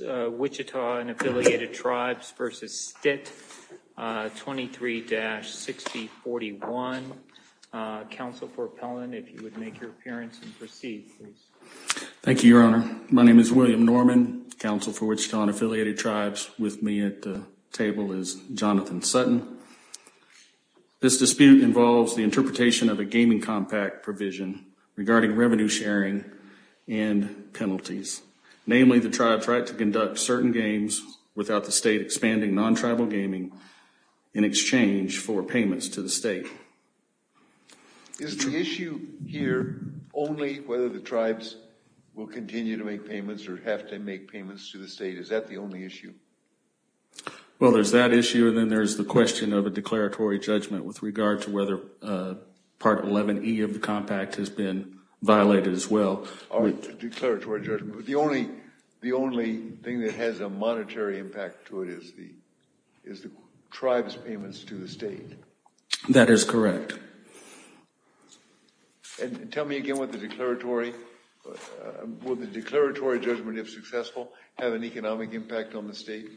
Wichita and Affiliated Tribes v. Stitt, 23-6041. Counsel for Appellant, if you would make your appearance and proceed, please. Thank you, Your Honor. My name is William Norman, Counsel for Wichita and Affiliated Tribes. With me at the table is Jonathan Sutton. This dispute involves the interpretation of a gaming compact provision regarding revenue sharing and penalties. Namely, the tribe tried to conduct certain games without the state expanding non-tribal gaming in exchange for payments to the state. Is the issue here only whether the tribes will continue to make payments or have to make payments to the state? Is that the only issue? Well, there's that issue and then there's the question of a declaratory judgment with regard to whether Part 11E of the compact has been violated as well. The only the only thing that has a monetary impact to it is the is the tribe's payments to the state. That is correct. And tell me again what the declaratory, will the declaratory judgment if successful have an economic impact on the state?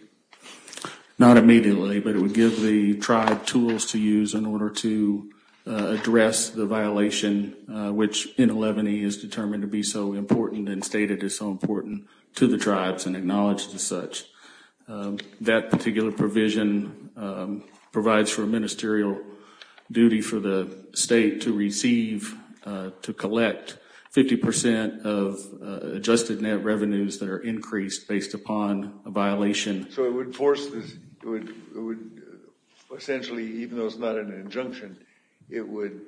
Not immediately, but it would give the tribe tools to use in order to address the violation which in 11E is determined to be so important and stated is so important to the tribes and acknowledged as such. That particular provision provides for a ministerial duty for the state to receive to collect 50 percent of adjusted net revenues that are increased based upon a violation. So it would force this, it would essentially even though it's not an injunction, it would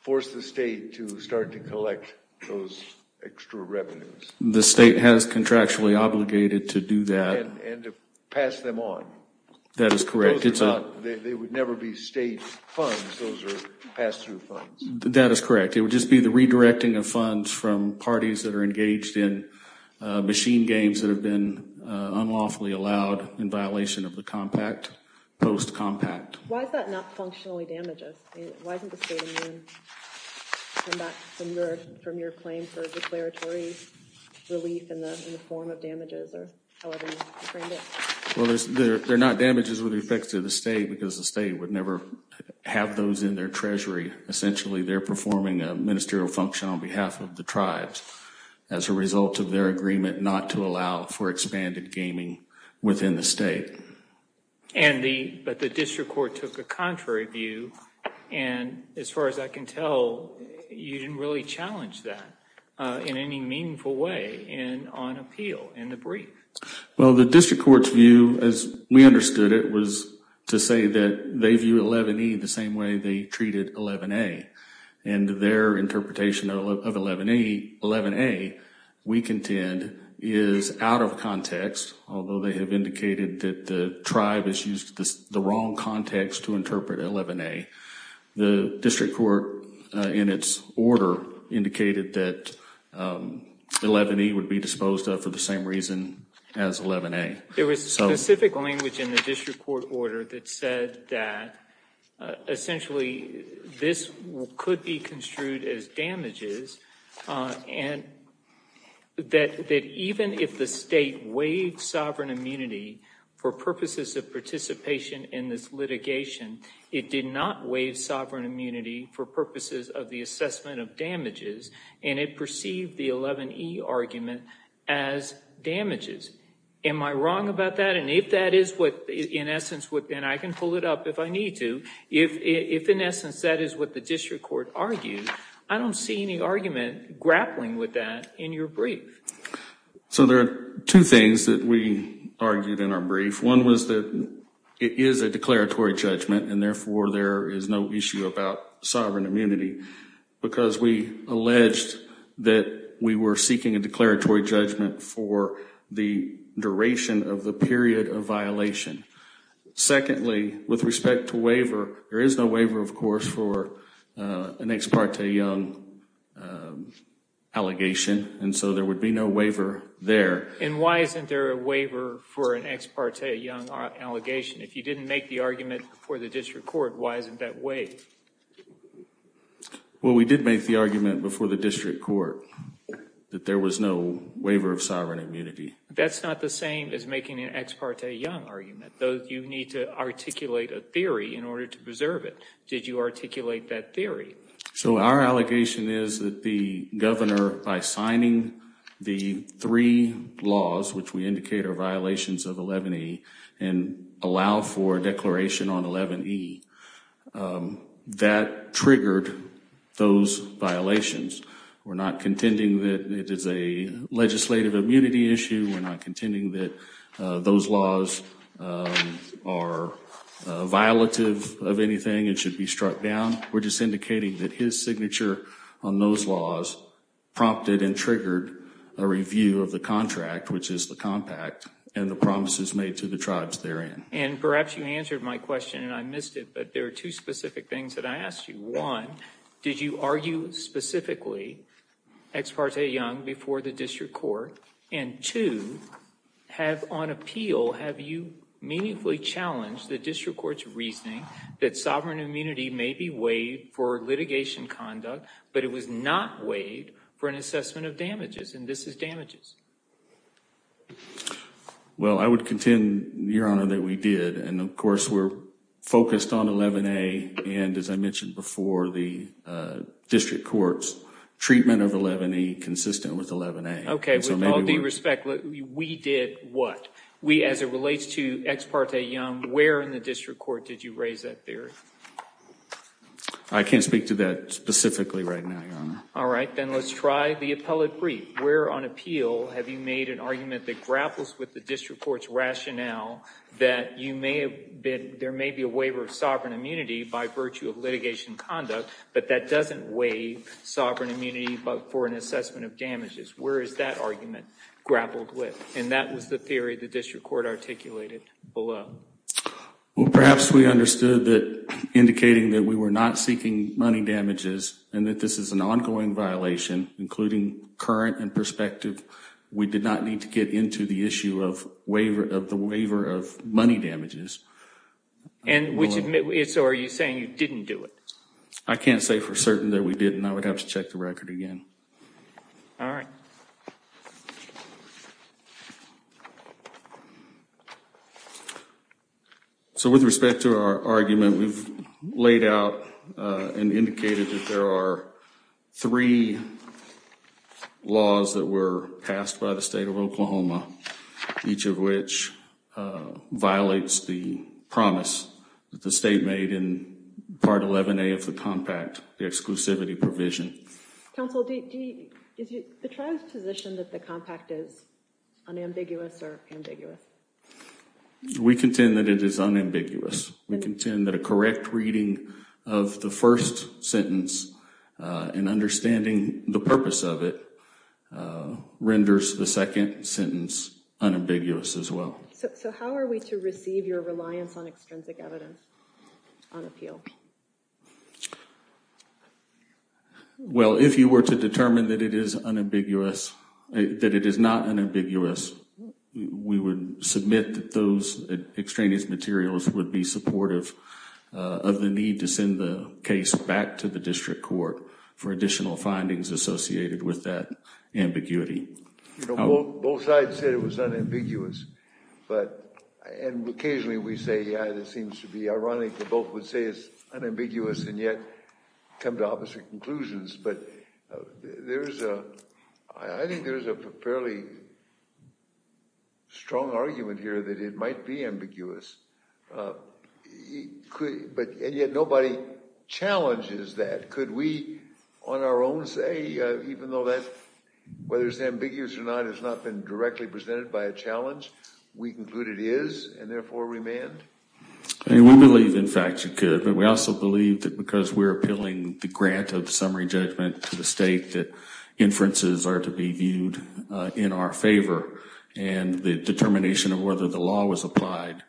force the state to start to collect those extra revenues. The state has contractually obligated to do that. And to pass them on. That is correct. It's not, they would never be state funds, those are pass-through funds. That is correct. It would just be the redirecting of funds from parties that are engaged in machine games that have been unlawfully allowed in violation of the compact, post-compact. Why is that not functionally damages? Why isn't the state immune from that, from your claim for declaratory relief in the form of damages or however you framed it? Well there's, they're not damages with respect to the state because the state would never have those in their treasury. Essentially they're performing a ministerial function on behalf of the tribes as a result of their agreement not to allow for expanded gaming within the state. And the, but the district court took a contrary view and as far as I can tell, you didn't really challenge that in any meaningful way and on appeal in the brief. Well the district court's view, as we understood it, was to say that they view 11E the same way they treated 11A. And their interpretation of 11A, we contend, is out of context. Although they have indicated that the tribe has used the wrong context to interpret 11A. The district court in its order indicated that 11E would be disposed of for the same reason as 11A. There was specific language in the district court order that said that essentially this could be construed as damages and that even if the state waived sovereign immunity for purposes of in this litigation, it did not waive sovereign immunity for purposes of the assessment of damages and it perceived the 11E argument as damages. Am I wrong about that? And if that is what in essence, and I can pull it up if I need to, if in essence that is what the district court argued, I don't see any argument grappling with that in your brief. So there are two things that argued in our brief. One was that it is a declaratory judgment and therefore there is no issue about sovereign immunity because we alleged that we were seeking a declaratory judgment for the duration of the period of violation. Secondly, with respect to waiver, there is no waiver of course for an ex parte young allegation and so there would be no waiver there. And why isn't there a waiver for an ex parte young allegation? If you didn't make the argument before the district court, why isn't that waived? Well, we did make the argument before the district court that there was no waiver of sovereign immunity. That's not the same as making an ex parte young argument. You need to articulate a theory in order to preserve it. Did you articulate that theory? So our allegation is that the governor by signing the three laws, which we indicate are violations of 11E and allow for declaration on 11E, that triggered those violations. We're not contending that it is a legislative immunity issue. We're not contending that those laws are violative of anything and should be struck down. We're just indicating that his signature on those laws prompted and triggered a review of the contract, which is the compact, and the promises made to the tribes therein. And perhaps you answered my question and I missed it, but there are two specific things that I asked you. One, did you argue specifically ex parte young before the district court? And two, have on appeal, have you meaningfully challenged the district court's reasoning that sovereign immunity may be waived for litigation conduct, but it was not waived for an assessment of damages? And this is damages. Well, I would contend, Your Honor, that we did. And of course, we're focused on 11A and, as I mentioned before, the district court's treatment of 11E consistent with 11A. With all due respect, we did what? As it relates to ex parte young, where in the district court did you raise that theory? I can't speak to that specifically right now, Your Honor. All right, then let's try the appellate brief. Where on appeal have you made an argument that grapples with the district court's rationale that there may be a waiver of sovereign immunity by virtue of litigation conduct, but that doesn't waive sovereign immunity for an assessment of damages? Where is that argument grappled with? And that was the theory the district court articulated below. Well, perhaps we understood that indicating that we were not seeking money damages and that this is an ongoing violation, including current and prospective. We did not need to get into the issue of the waiver of money damages. And so are you saying you didn't do it? I can't say for certain that we didn't. I would have to check the record again. All right. So with respect to our argument, we've laid out and indicated that there are three laws that were passed by the state of Oklahoma, each of which violates the promise that the state made in Part 11A of the Compact, the exclusivity provision. Counsel, is the tribe's position that the Compact is unambiguous or ambiguous? We contend that it is unambiguous. We contend that a correct reading of the first sentence and understanding the purpose of it renders the second sentence unambiguous as well. So how are we to receive your reliance on extrinsic evidence? Well, if you were to determine that it is unambiguous, that it is not unambiguous, we would submit that those extraneous materials would be supportive of the need to send the case back to the district court for additional findings associated with that ambiguity. You know, both sides said it was unambiguous, but and occasionally we say, yeah, it seems to be ironic that both would say it's unambiguous and yet come to opposite conclusions. But there's a, I think there's a fairly strong argument here that it might be ambiguous. But and yet nobody challenges that. Could we on our own say, even though that, whether it's ambiguous or not, has not been directly presented by a challenge, we conclude it is and therefore remand? I mean, we believe in fact you could, but we also believe that because we're appealing the grant of summary judgment to the state that inferences are to be viewed in our favor and the determination of whether the law was applied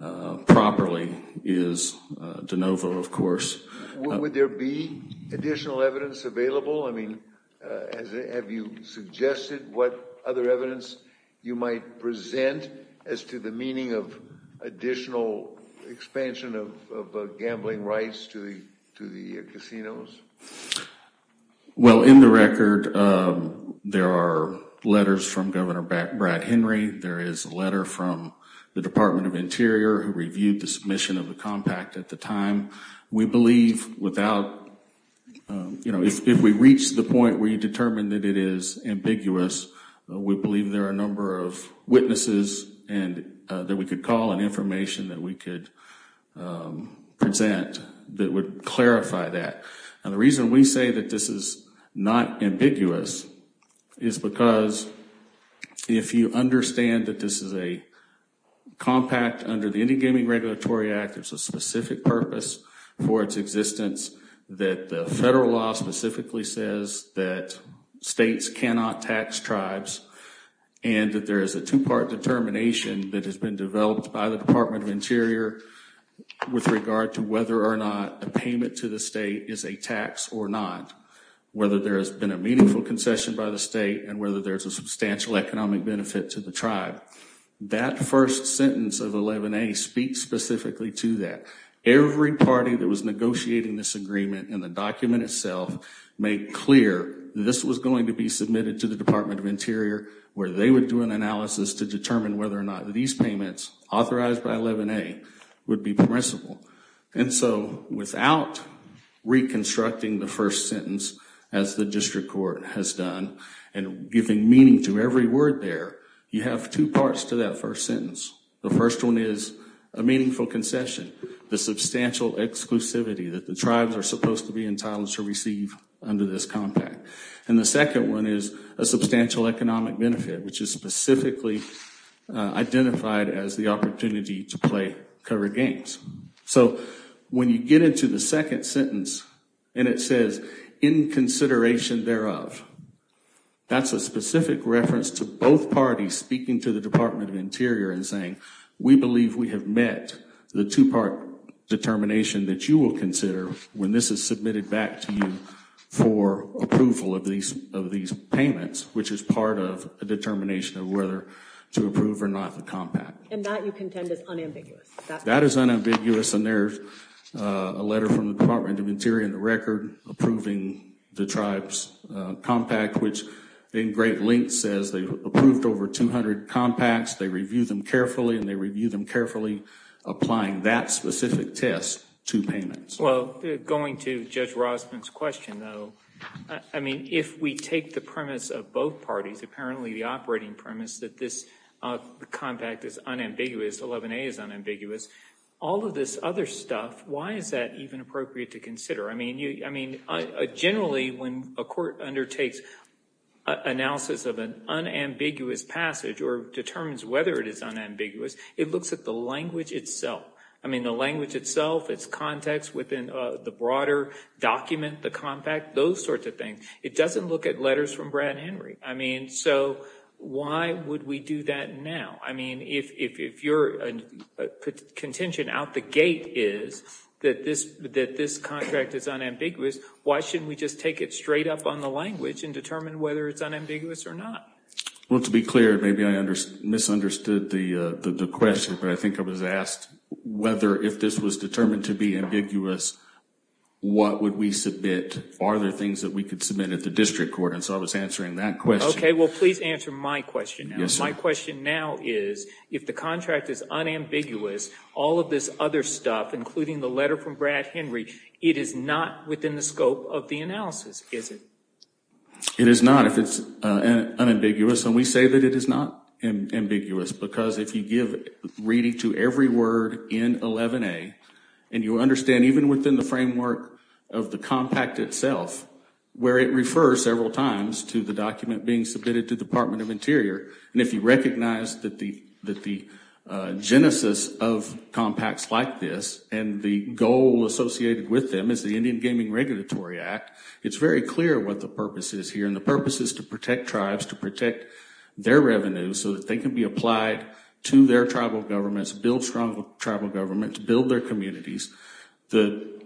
properly is de novo, of course. Would there be additional evidence available? I mean, have you suggested what other evidence you might present as to the meaning of additional expansion of gambling rights to the casinos? Well, in the record there are letters from Governor Brad Henry. There is a letter from the Department of Interior who reviewed the compact at the time. We believe without, you know, if we reach the point where you determine that it is ambiguous, we believe there are a number of witnesses and that we could call and information that we could present that would clarify that. And the reason we say that this is not ambiguous is because if you understand that this is a compact under the Indie Gaming Regulatory Act, it's a specific purpose for its existence that the federal law specifically says that states cannot tax tribes and that there is a two-part determination that has been developed by the Department of Interior with regard to whether or not a payment to the state is a tax or not, whether there has been a meaningful concession by the state and whether there's substantial economic benefit to the tribe. That first sentence of 11a speaks specifically to that. Every party that was negotiating this agreement in the document itself made clear this was going to be submitted to the Department of Interior where they would do an analysis to determine whether or not these payments authorized by 11a would be permissible. And so without reconstructing the first sentence as the district court has done and giving meaning to every word there, you have two parts to that first sentence. The first one is a meaningful concession, the substantial exclusivity that the tribes are supposed to be entitled to receive under this compact. And the second one is a substantial economic benefit which is specifically identified as the opportunity to play covered games. So when you get into the second sentence and it says in consideration thereof, that's a specific reference to both parties speaking to the Department of Interior and saying we believe we have met the two-part determination that you will consider when this is submitted back to you for approval of these of these payments, which is part of a determination of whether to approve or not the compact. And that you contend is unambiguous. That is unambiguous and there's a letter from the Department of Interior in the record approving the tribe's compact which in great length says they've approved over 200 compacts, they review them carefully and they review them carefully applying that specific test to payments. Well, going to Judge Rosman's question though, I mean if we take the premise of both parties, apparently the operating premise that this compact is unambiguous, 11A is unambiguous, all of this other stuff, why is that even appropriate to consider? I mean generally when a court undertakes analysis of an unambiguous passage or determines whether it is unambiguous, it looks at the language itself. I mean the language itself, its context within the broader document, the compact, those sorts of things. It doesn't look at letters from Brad Henry. I mean so why would we do that now? I mean if your contention out the gate is that this contract is unambiguous, why shouldn't we just take it straight up on the language and determine whether it's unambiguous or not? Well to be clear, maybe I misunderstood the question, but I think I was asked whether if this was determined to be ambiguous, what would we submit? Are there things that we could submit at the district court? And so I was answering that question. Okay, well please answer my question. My question now is if the contract is unambiguous, all of this other stuff including the letter from Brad Henry, it is not within the scope of the analysis, is it? It is not if it's unambiguous and we say that it is not ambiguous because if you give reading to every word in 11a and you understand even within the framework of the compact itself where it refers several times to the document being submitted to Department of Interior and if you recognize that the genesis of compacts like this and the goal associated with them is the Indian Gaming Regulatory Act, it's very clear what the purpose is here and the purpose is to protect tribes, to protect their revenue so that they can be applied to their tribal governments, build strong tribal government, to build their communities. The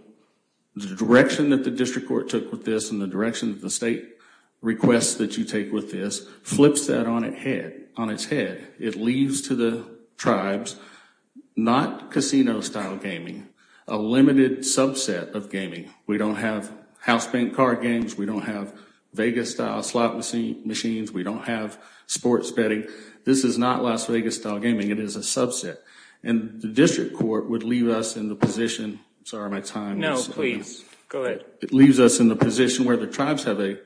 direction that the district court took with this and the direction of the state requests that you take with this flips that on its head. It leaves to the tribes not casino style gaming, a limited subset of gaming. We don't have house bank card games. We don't have Vegas style slot machines. We don't have sports betting. This is not Las Vegas style gaming. It is a subset and the district court would leave us in the position, sorry my time. No, please go ahead. It leaves us in the position where the tribes have a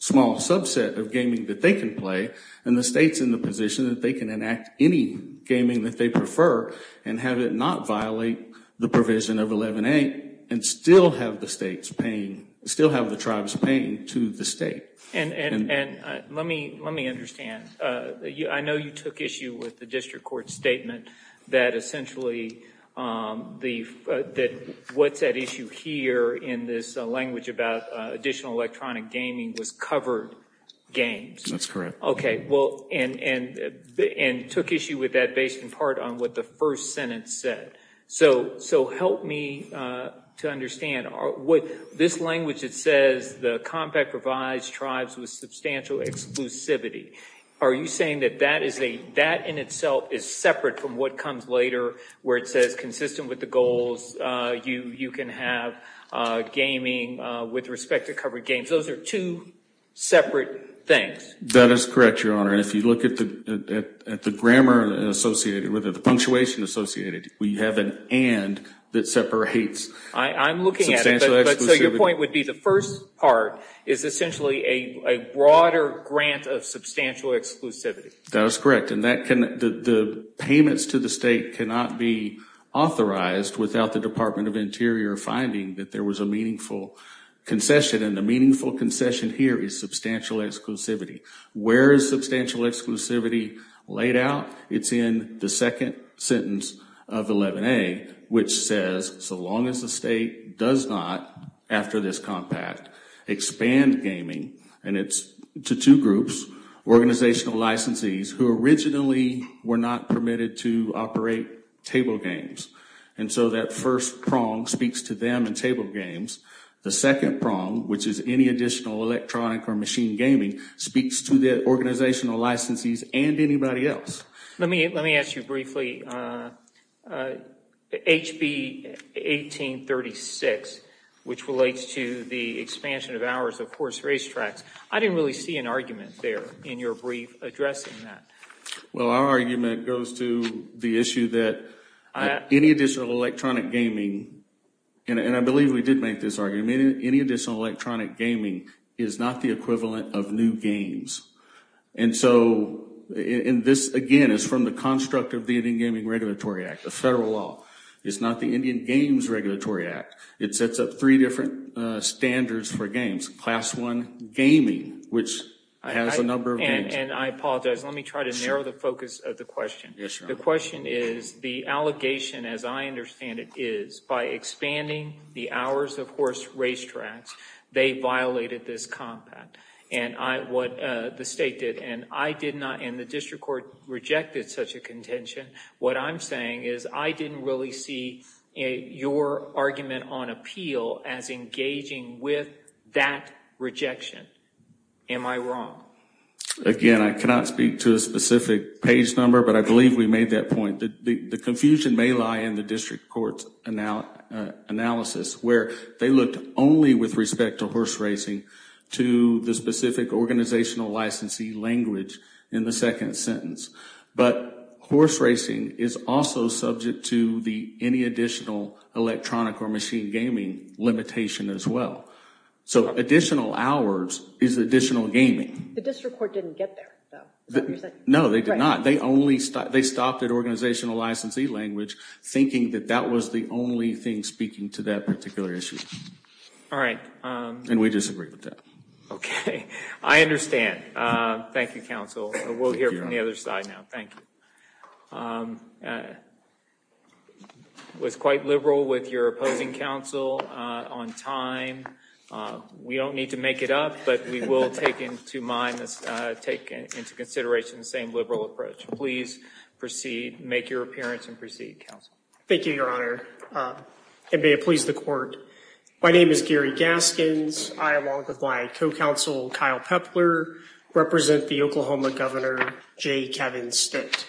small subset of gaming that they can play and the state's in the position that they can enact any gaming that they prefer and have it not violate the provision of 11a and still have the states paying, still have the tribes paying to the state. And let me understand. I know you took issue with the district court statement that essentially what's at issue here in this language about additional electronic gaming was covered games. That's correct. Okay, well and took issue with that based in part on what the first sentence said. So help me to understand. This language it says the compact provides tribes with substantial exclusivity. Are you saying that that in itself is separate from what comes later where it says consistent with the goals you can have gaming with respect to covered games. Those are two separate things. That is correct, your honor. And if you look at the grammar associated with it, the punctuation associated, we have an and that separates. I'm looking at it, but so your point would be the first part is essentially a broader grant of substantial exclusivity. That is correct and the payments to the state cannot be authorized without the Department of Interior finding that there was a meaningful concession and the exclusivity laid out. It's in the second sentence of 11a which says so long as the state does not, after this compact, expand gaming and it's to two groups, organizational licensees who originally were not permitted to operate table games. And so that first prong speaks to them and table games. The second prong which is any additional electronic or machine gaming speaks to the organizational licensees and anybody else. Let me ask you briefly. HB 1836 which relates to the expansion of hours of course racetracks. I didn't really see an argument there in your brief addressing that. Well our argument goes to the issue that any additional electronic gaming, and I believe we did make this argument, any additional electronic gaming is not the equivalent of new games. And so this again is from the construct of the Indian Gaming Regulatory Act, the federal law. It's not the Indian Games Regulatory Act. It sets up three different standards for games. Class one gaming which has a number of games. And I apologize. Let me try to narrow the focus of the question. The question is the allegation as I understand it is by expanding the hours of course racetracks, they violated this compact. And I what the state did and I did not in the district court rejected such a contention. What I'm saying is I didn't really see your argument on appeal as engaging with that rejection. Am I wrong? Again I cannot speak to a specific page number but I believe we made that point. The confusion may lie in the district court's analysis where they looked only with respect to horse racing to the specific organizational licensee language in the second sentence. But horse racing is also subject to the any additional electronic or machine gaming limitation as well. So additional hours is additional gaming. The district court didn't get there. No they did not. They only stopped at organizational licensee language thinking that that was the only thing speaking to that particular issue. All right. And we disagree with that. Okay. I understand. Thank you counsel. We'll hear from the other side now. Thank you. It was quite liberal with your opposing counsel on time. We don't need to make it up but we will take into consideration the same liberal approach. Please proceed. Make your appearance and proceed counsel. Thank you your honor and may it please the court. My name is Gary Gaskins. I along with my co-counsel Kyle Pepler represent the Oklahoma governor J Kevin Stitt.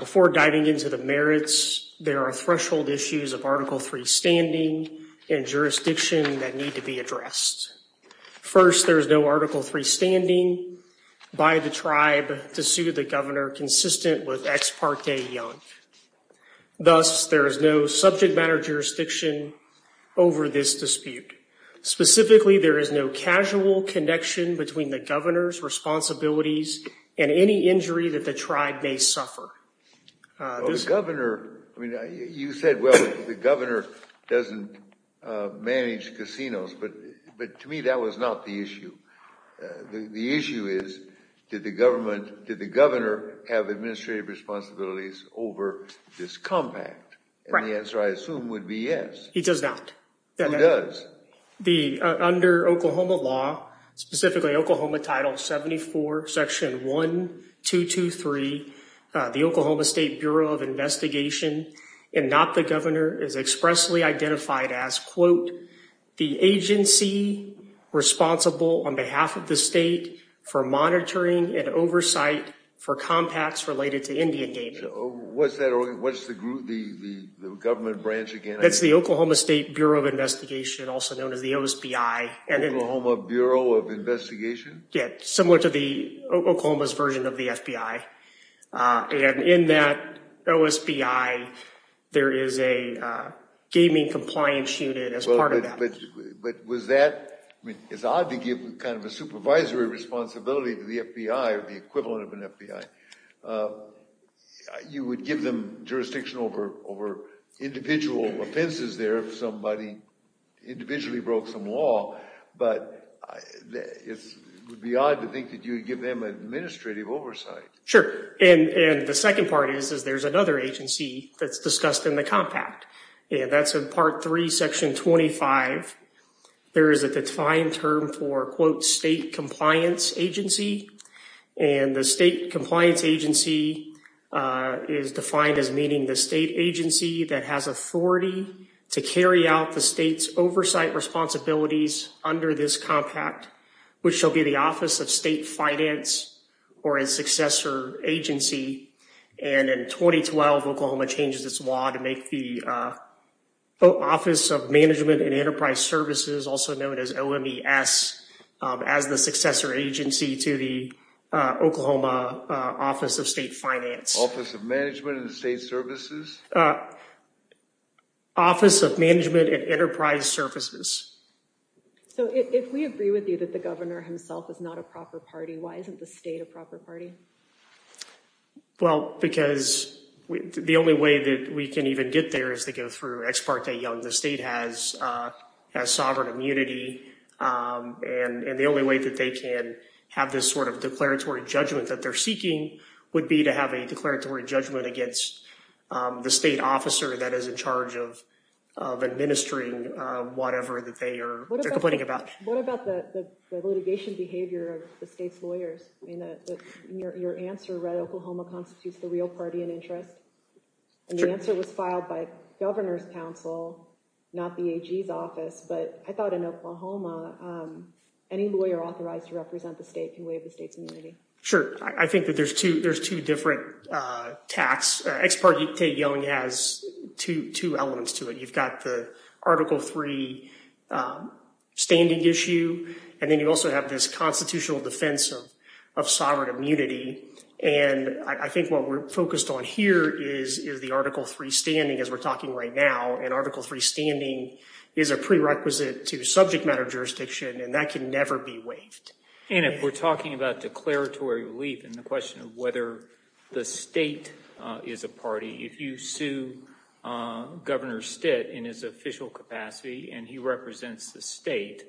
Before diving into the merits there are threshold issues of article 3 standing and jurisdiction that need to be addressed. First there is no article 3 standing by the tribe to sue the governor consistent with ex parte young. Thus there is no subject matter jurisdiction over this dispute. Specifically there is no casual connection between the governor's responsibilities and any injury that the tribe may suffer. The governor I mean you said well the governor doesn't manage casinos but but to me that was not the issue. The issue is did the government did the governor have administrative responsibilities over this compact? And the answer I assume would be yes. He does not. Who does? The under Oklahoma law specifically Oklahoma title 74 section 1223 the Oklahoma State Bureau of Investigation and not the governor is expressly identified as quote the agency responsible on behalf of the state for monitoring and oversight for compacts related to Indian games. What's that what's the group the the government branch again? That's the Oklahoma State Bureau of Investigation also known as the OSPI. Oklahoma Bureau of Investigation? Yeah similar to the Oklahoma's version of the FBI and in that OSPI there is a gaming compliance unit as part of that. But was that I mean it's odd to give kind of a supervisory responsibility to the FBI or the somebody individually broke some law but it would be odd to think that you would give them administrative oversight. Sure and and the second part is is there's another agency that's discussed in the compact and that's in part 3 section 25. There is a defined term for quote state compliance agency and the state compliance agency is defined as meaning the state agency that has authority to carry out the state's oversight responsibilities under this compact which shall be the Office of State Finance or a successor agency and in 2012 Oklahoma changes its law to make the Office of Management and Enterprise Services also known as OMES as the successor agency to the Oklahoma Office of State Finance. Office of Management and State Services? Office of Management and Enterprise Services. So if we agree with you that the governor himself is not a proper party why isn't the state a proper party? Well because the only way that we can even get there is to go through ex parte young the state has has sovereign immunity and and the only way that they can have this sort of declaratory judgment that they're seeking would be to have a declaratory judgment against the state officer that is in charge of of administering whatever that they are complaining about. What about the litigation behavior of the state's lawyers? I mean your answer read Oklahoma constitutes the real party in interest and the answer was filed by governor's counsel not the AG's office but I thought in Oklahoma any lawyer authorized to represent the state can waive the state's immunity. Sure I think that there's two there's two different uh tax ex parte young has two two elements to it you've got the article three standing issue and then you also have this constitutional defense of of sovereign immunity and I think what we're focused on here is is the article three standing as we're talking right now and article three standing is a prerequisite to subject matter jurisdiction and that can never be waived. And if we're talking about declaratory relief and the question of whether the state is a party if you sue governor stitt in his official capacity and he represents the state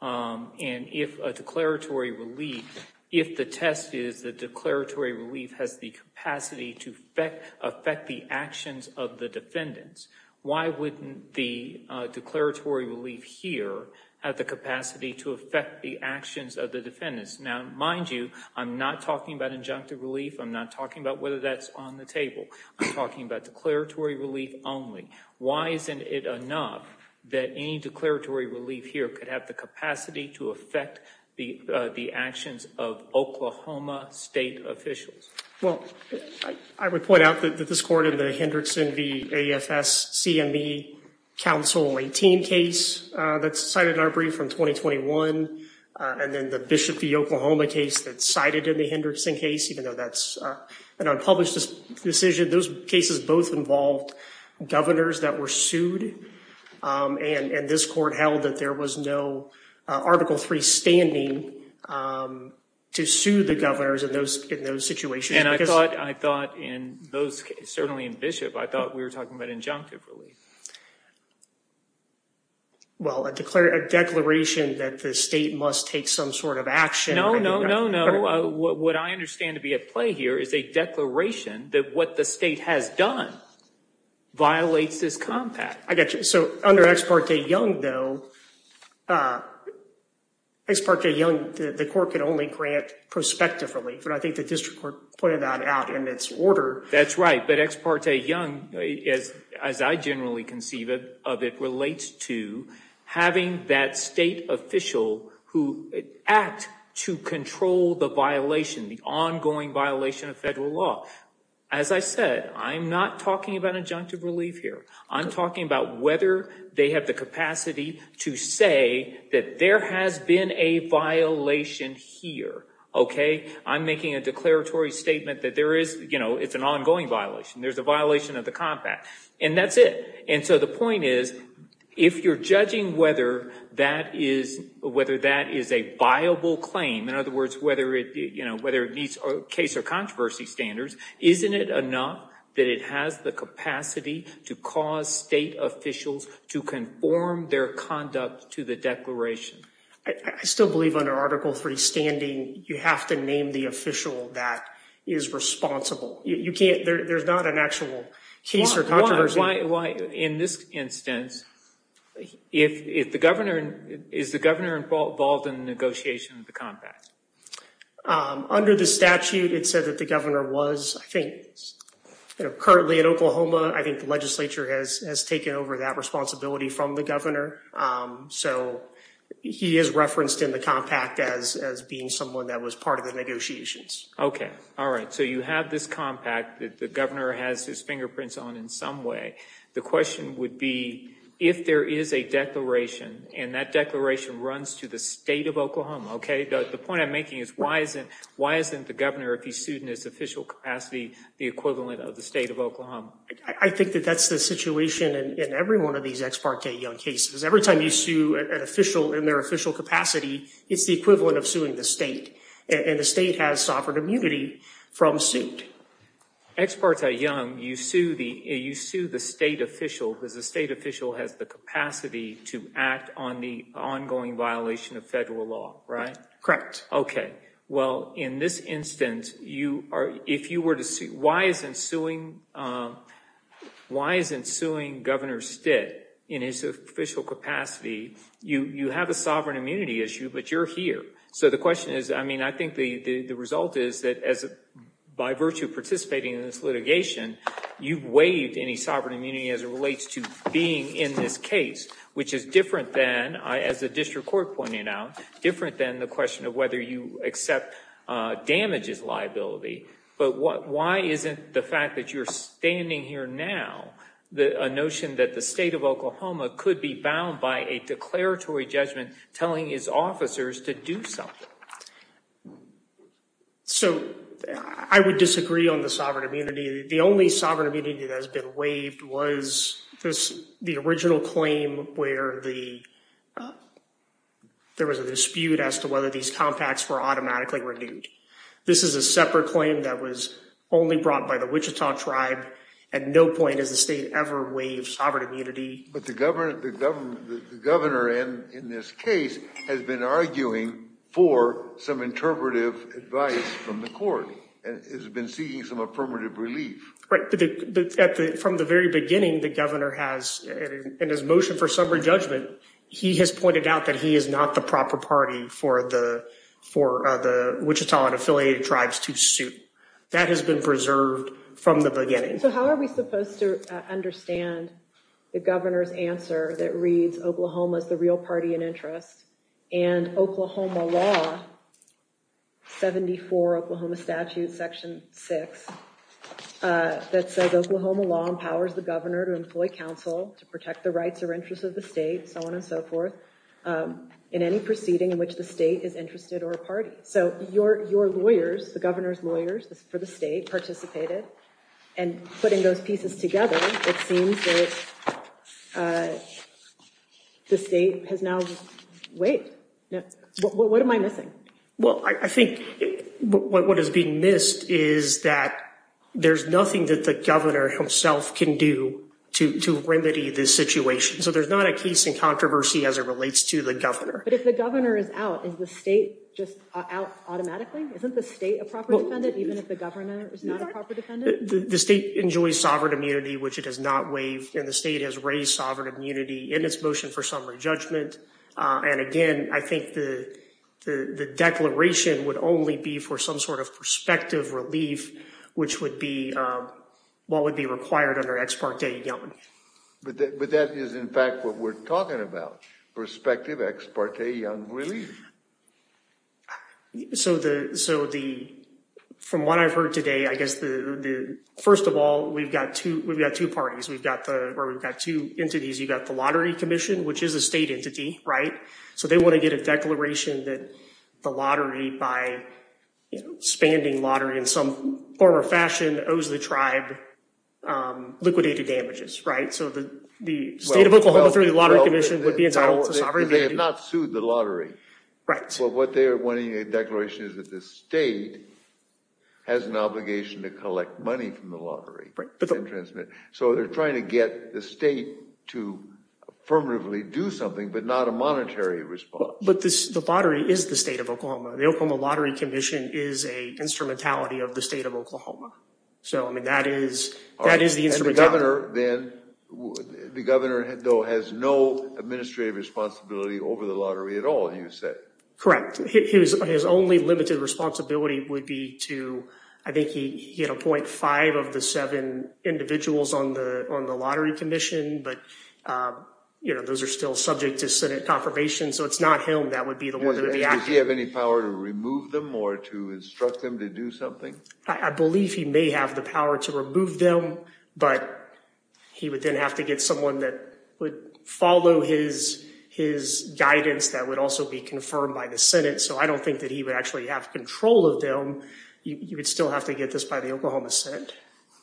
and if a declaratory relief if the test is the declaratory relief has the capacity to affect affect the actions of the defendants why wouldn't the declaratory relief here have the capacity to affect the actions of the defendants now mind you I'm not talking about injunctive relief I'm not talking about whether that's on the table I'm talking about declaratory relief only why isn't it enough that any declaratory relief here could have the capacity to affect the the actions of Oklahoma state officials? Well I would point out that this court in the and then the Bishop v. Oklahoma case that's cited in the Hendrickson case even though that's an unpublished decision those cases both involved governors that were sued and and this court held that there was no article three standing to sue the governors in those in those situations. And I thought I thought in those certainly in Bishop I thought we were some sort of action. No no no no what I understand to be at play here is a declaration that what the state has done violates this compact. I got you so under ex parte young though ex parte young the court can only grant prospective relief but I think the district court pointed that out in its order. That's right but ex parte young is as I generally conceive of it relates to having that state official who act to control the violation the ongoing violation of federal law. As I said I'm not talking about adjunctive relief here I'm talking about whether they have the capacity to say that there has been a violation here okay I'm making a declaratory statement that there is you know it's an ongoing violation there's a violation of the compact and that's it and so the point is if you're judging whether that is whether that is a viable claim in other words whether it you know whether it meets case or controversy standards isn't it enough that it has the capacity to cause state officials to conform their conduct to the declaration? I still believe under article three standing you have to name the official that is responsible you can't there's not an actual case or controversy. Why in this instance if the governor is the governor involved in the negotiation of the compact? Under the statute it said that the governor was I think you know currently in Oklahoma I think the legislature has has taken over that responsibility from the governor so he is referenced in the compact as as being someone that was part of the negotiations. Okay all right so you have this compact that the governor has his fingerprints on in some way the question would be if there is a declaration and that declaration runs to the state of Oklahoma okay the point I'm making is why isn't why isn't the governor if he sued in his official capacity the equivalent of the state of Oklahoma? I think that that's the situation in every one of these ex parte young cases every time you sue an official in their official capacity it's the equivalent of and the state has sovereign immunity from suit. Ex parte young you sue the you sue the state official because the state official has the capacity to act on the ongoing violation of federal law right? Correct. Okay well in this instance you are if you were to see why isn't suing why isn't suing governor Stitt in his official capacity you you have a sovereign issue but you're here so the question is I mean I think the the result is that as by virtue of participating in this litigation you've waived any sovereign immunity as it relates to being in this case which is different than I as the district court pointing out different than the question of whether you accept damages liability but what why isn't the fact that you're standing here now the a notion that the state of Oklahoma could be bound by a declaratory judgment telling his officers to do something? So I would disagree on the sovereign immunity the only sovereign immunity that has been waived was this the original claim where the there was a dispute as to whether these compacts were automatically renewed. This is a separate claim that was only brought by the tribe at no point has the state ever waived sovereign immunity. But the government the government the governor in in this case has been arguing for some interpretive advice from the court and has been seeking some affirmative relief. Right but at the from the very beginning the governor has in his motion for summary judgment he has pointed out that he is not the proper party for the for the Wichita and affiliated tribes to suit that has been preserved from the beginning. So how are we supposed to understand the governor's answer that reads Oklahoma is the real party in interest and Oklahoma law 74 Oklahoma statute section 6 that says Oklahoma law empowers the governor to employ counsel to protect the rights or interests of the state so on and so forth in any proceeding in which the state is interested or a party. So your your lawyers the governor's lawyers for the state participated and putting those pieces together it seems that the state has now wait no what am I missing? Well I think what is being missed is that there's nothing that the governor himself can do to to remedy this situation. So there's not a controversy as it relates to the governor. But if the governor is out is the state just out automatically? Isn't the state a proper defendant even if the governor is not a proper defendant? The state enjoys sovereign immunity which it has not waived and the state has raised sovereign immunity in its motion for summary judgment and again I think the the the declaration would only be for some sort of prospective relief which would be what would require under ex parte young. But that is in fact what we're talking about prospective ex parte young relief. So the so the from what I've heard today I guess the the first of all we've got two we've got two parties we've got the or we've got two entities you got the lottery commission which is a state entity right so they want to get a declaration that the lottery by you know spanding lottery in some form or fashion owes the tribe liquidated damages right so the the state of Oklahoma lottery commission would be entitled to sovereign they have not sued the lottery right so what they are wanting a declaration is that the state has an obligation to collect money from the lottery right so they're trying to get the state to affirmatively do something but not a monetary response. But this the lottery is the state of Oklahoma the Oklahoma lottery commission is a instrumentality of the state of Oklahoma so I mean that is that is the instrument governor then the governor though has no administrative responsibility over the lottery at all you said. Correct his only limited responsibility would be to I think he he had a 0.5 of the seven individuals on the on the lottery commission but you know those are still subject to senate confirmation so it's not him that would be the one that would be active. Does he have any power to remove them or to instruct them to do something? I believe he may have the power to remove them but he would then have to get someone that would follow his his guidance that would also be confirmed by the senate so I don't think that he would actually have control of them you would still have to get this by the Oklahoma senate.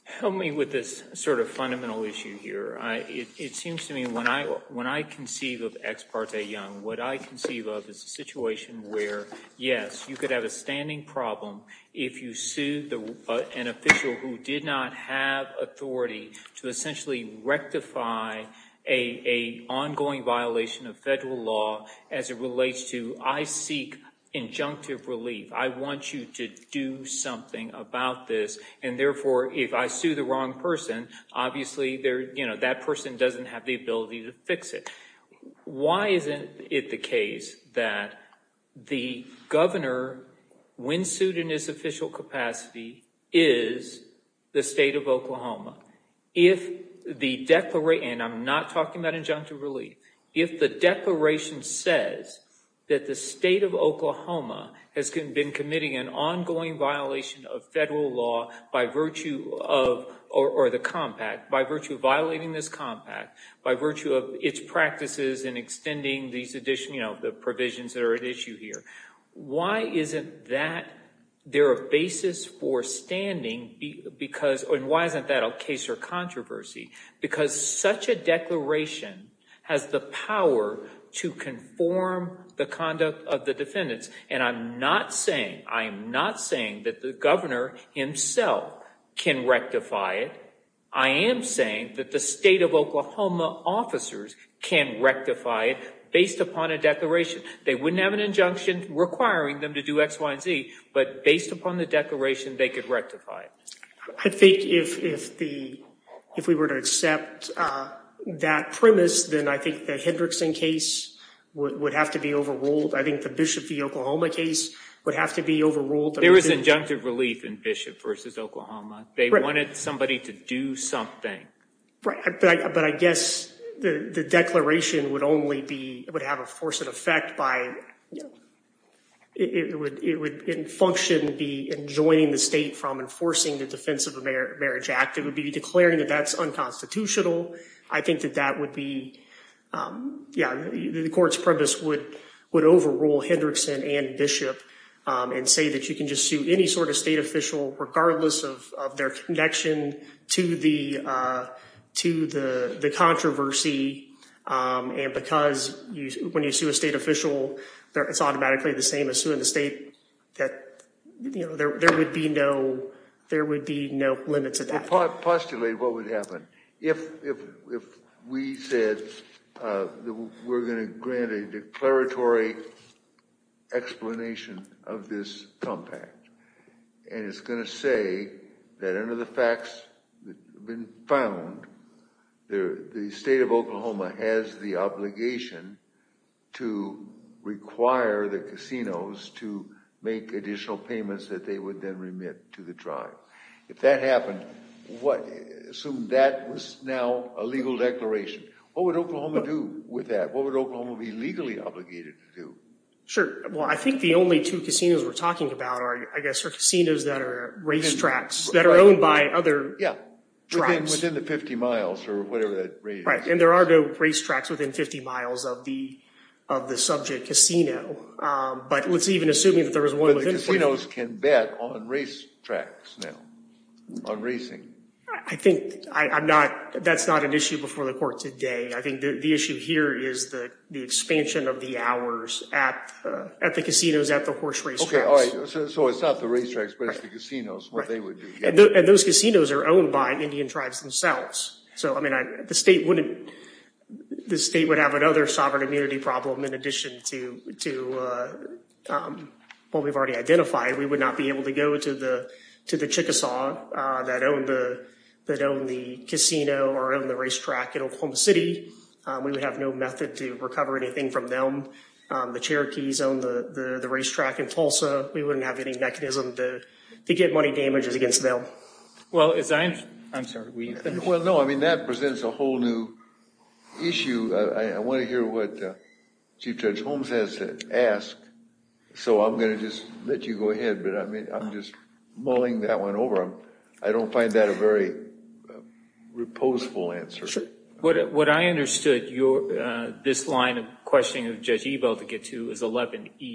Help me with this sort of fundamental issue here it seems to me when I when I conceive of ex parte young what I conceive of is a situation where yes you could have a standing problem if you sue an official who did not have authority to essentially rectify a ongoing violation of federal law as it relates to I seek injunctive relief I want you to do something about this and therefore if I sue the wrong person obviously they're you know that person doesn't have the ability to fix it why isn't it the case that the governor when sued in his official capacity is the state of Oklahoma if the declaration I'm not talking about injunctive relief if the declaration says that the state of Oklahoma has been committing an ongoing violation of federal law by virtue of or the compact by virtue of violating this compact by virtue of its practices and extending these additional you know the provisions that are at issue here why isn't that there a basis for standing because and why isn't that a case or controversy because such a declaration has the power to conform the conduct of the defendants and I'm not saying I'm not saying that the governor himself can rectify it I am saying that the state of Oklahoma officers can rectify it based upon a declaration they wouldn't have an injunction requiring them to do x y and z but based upon the declaration they could rectify it I think if if the if we were to accept that premise then I think the Hendrickson case would have to be overruled I think the Bishop v Oklahoma case would have to be overruled there was injunctive relief in Bishop versus Oklahoma they wanted somebody to do something right but I guess the the declaration would only be would have a force and effect by it would it would in function be enjoining the state from enforcing the defense of a marriage act it would be declaring that that's unconstitutional I think that that would be yeah the court's premise would would overrule Hendrickson and Bishop and say that you can just sue any sort of state official regardless of of their connection to the to the the controversy and because you when you sue a state official there it's automatically the same as suing the state that you know there there would be no there would be no limits at that point postulate what would happen if if if we said that we're going to grant a declaratory explanation of this compact and it's going to say that under the facts that have been found there the state of Oklahoma has the obligation to require the casinos to make additional payments that they would then remit to the tribe if that happened what assume that was now a legal declaration what would Oklahoma do with that what would Oklahoma be legally obligated to do sure well I think the only two casinos we're talking about are I guess are casinos that are racetracks that are owned by other yeah tribes within the 50 miles or whatever that right and there are no racetracks within 50 miles of the of the subject casino but let's even assume that the casinos can bet on racetracks now on racing I think I'm not that's not an issue before the court today I think the issue here is the the expansion of the hours at at the casinos at the horse race okay all right so it's not the racetracks but it's the casinos what they would do and those casinos are owned by Indian tribes themselves so I mean I the state wouldn't the state would have another sovereign immunity problem in addition to to what we've already identified we would not be able to go to the to the Chickasaw that own the that own the casino or own the racetrack in Oklahoma City we would have no method to recover anything from them the Cherokees own the the racetrack in Tulsa we wouldn't have any mechanism to to get money damages against them well as I'm I'm sorry we well no I mean that presents a whole new issue I want to hear what Chief Judge Holmes has to ask so I'm going to just let you go ahead but I mean I'm just mulling that one over I don't find that a very reposeful answer what what I understood your this line of questioning of Judge Ebel to get to is 11e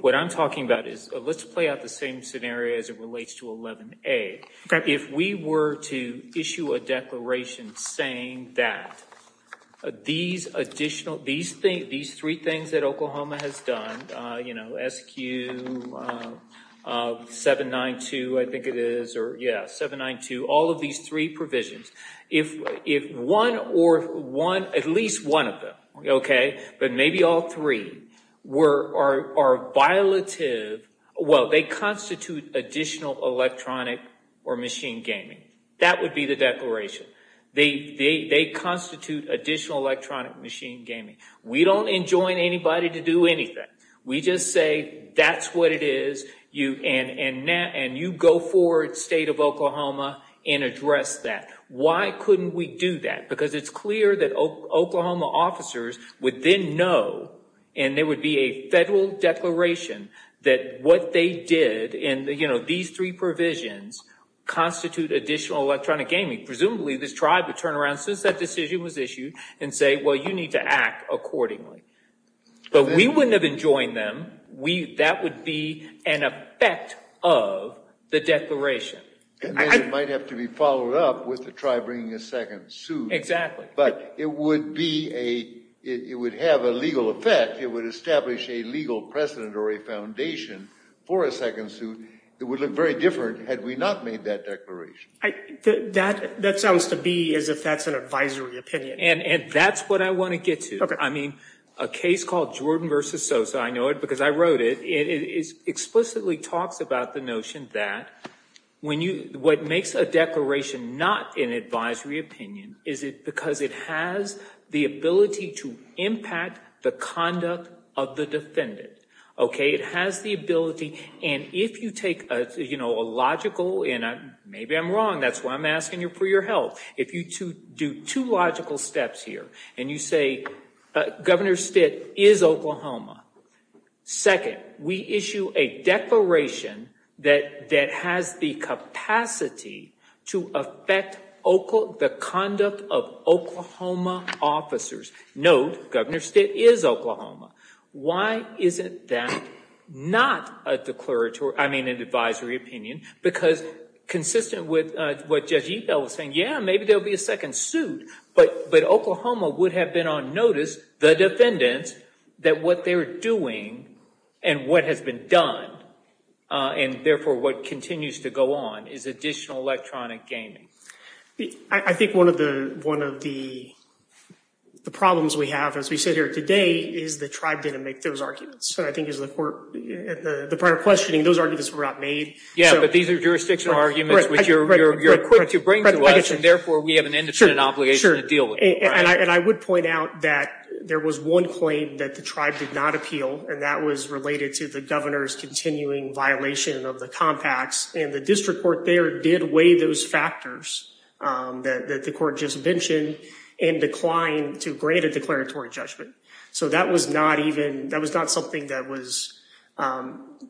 what I'm talking about is let's play out the same scenario as it relates to 11a if we were to issue a declaration saying that these additional these things these three things that Oklahoma has done you know sq 792 I think it is or yeah 792 all of these three provisions if if one or one at least one of them okay but maybe all three were are are violative well they constitute additional electronic or machine gaming that would be the declaration they they they constitute additional electronic machine gaming we don't enjoin anybody to do anything we just say that's what it is you and and now and you go forward state of Oklahoma and address that why couldn't we do that because it's clear that Oklahoma officers would then know and there would be a federal declaration that what they did in the you know these three provisions constitute additional electronic gaming presumably this tribe would turn around since that decision was issued and say well you need to act accordingly but we wouldn't have enjoined them we that would be an effect of the declaration and then it might have to be followed up with the tribe bringing a second suit exactly but it would be a it would have a legal effect it would establish a legal precedent or a foundation for a second suit that would look very different had we not made that declaration that that sounds to be as if that's an advisory opinion and and that's what I want to get to okay I mean a case called Jordan versus Sosa I know it because I wrote it it is explicitly talks about the notion that when you what makes a not an advisory opinion is it because it has the ability to impact the conduct of the defendant okay it has the ability and if you take a you know a logical and I maybe I'm wrong that's why I'm asking you for your help if you to do two logical steps here and you say Governor Stitt is Oklahoma second we issue a declaration that that has the capacity to affect the conduct of Oklahoma officers note Governor Stitt is Oklahoma why isn't that not a declaratory I mean an advisory opinion because consistent with what Judge Epel was saying yeah maybe there'll be a second suit but but Oklahoma would have been on notice the defendants that what they're doing and what has been done and therefore what continues to go on is additional electronic gaming I think one of the one of the the problems we have as we sit here today is the tribe didn't make those arguments so I think is the court the prior questioning those arguments were not made yeah but these are jurisdictional arguments which you're you're equipped to bring to us and therefore we have an obligation to deal with and I would point out that there was one claim that the tribe did not appeal and that was related to the governor's continuing violation of the compacts and the district court there did weigh those factors that the court just mentioned and declined to grant a declaratory judgment so that was not even that was not something that was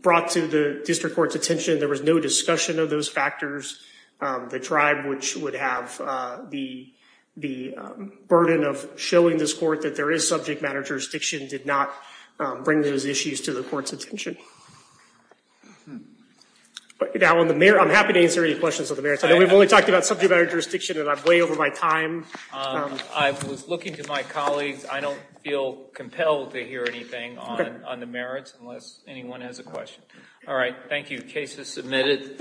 brought to the district court's attention there was no discussion of those factors the tribe which would have the the burden of showing this court that there is subject matter jurisdiction did not bring those issues to the court's attention but now on the mayor I'm happy to answer any questions of the merits I know we've only talked about subject matter jurisdiction and I've way over my time I was looking to my colleagues I don't feel compelled to hear anything on on the merits unless anyone has a question all right thank you case is submitted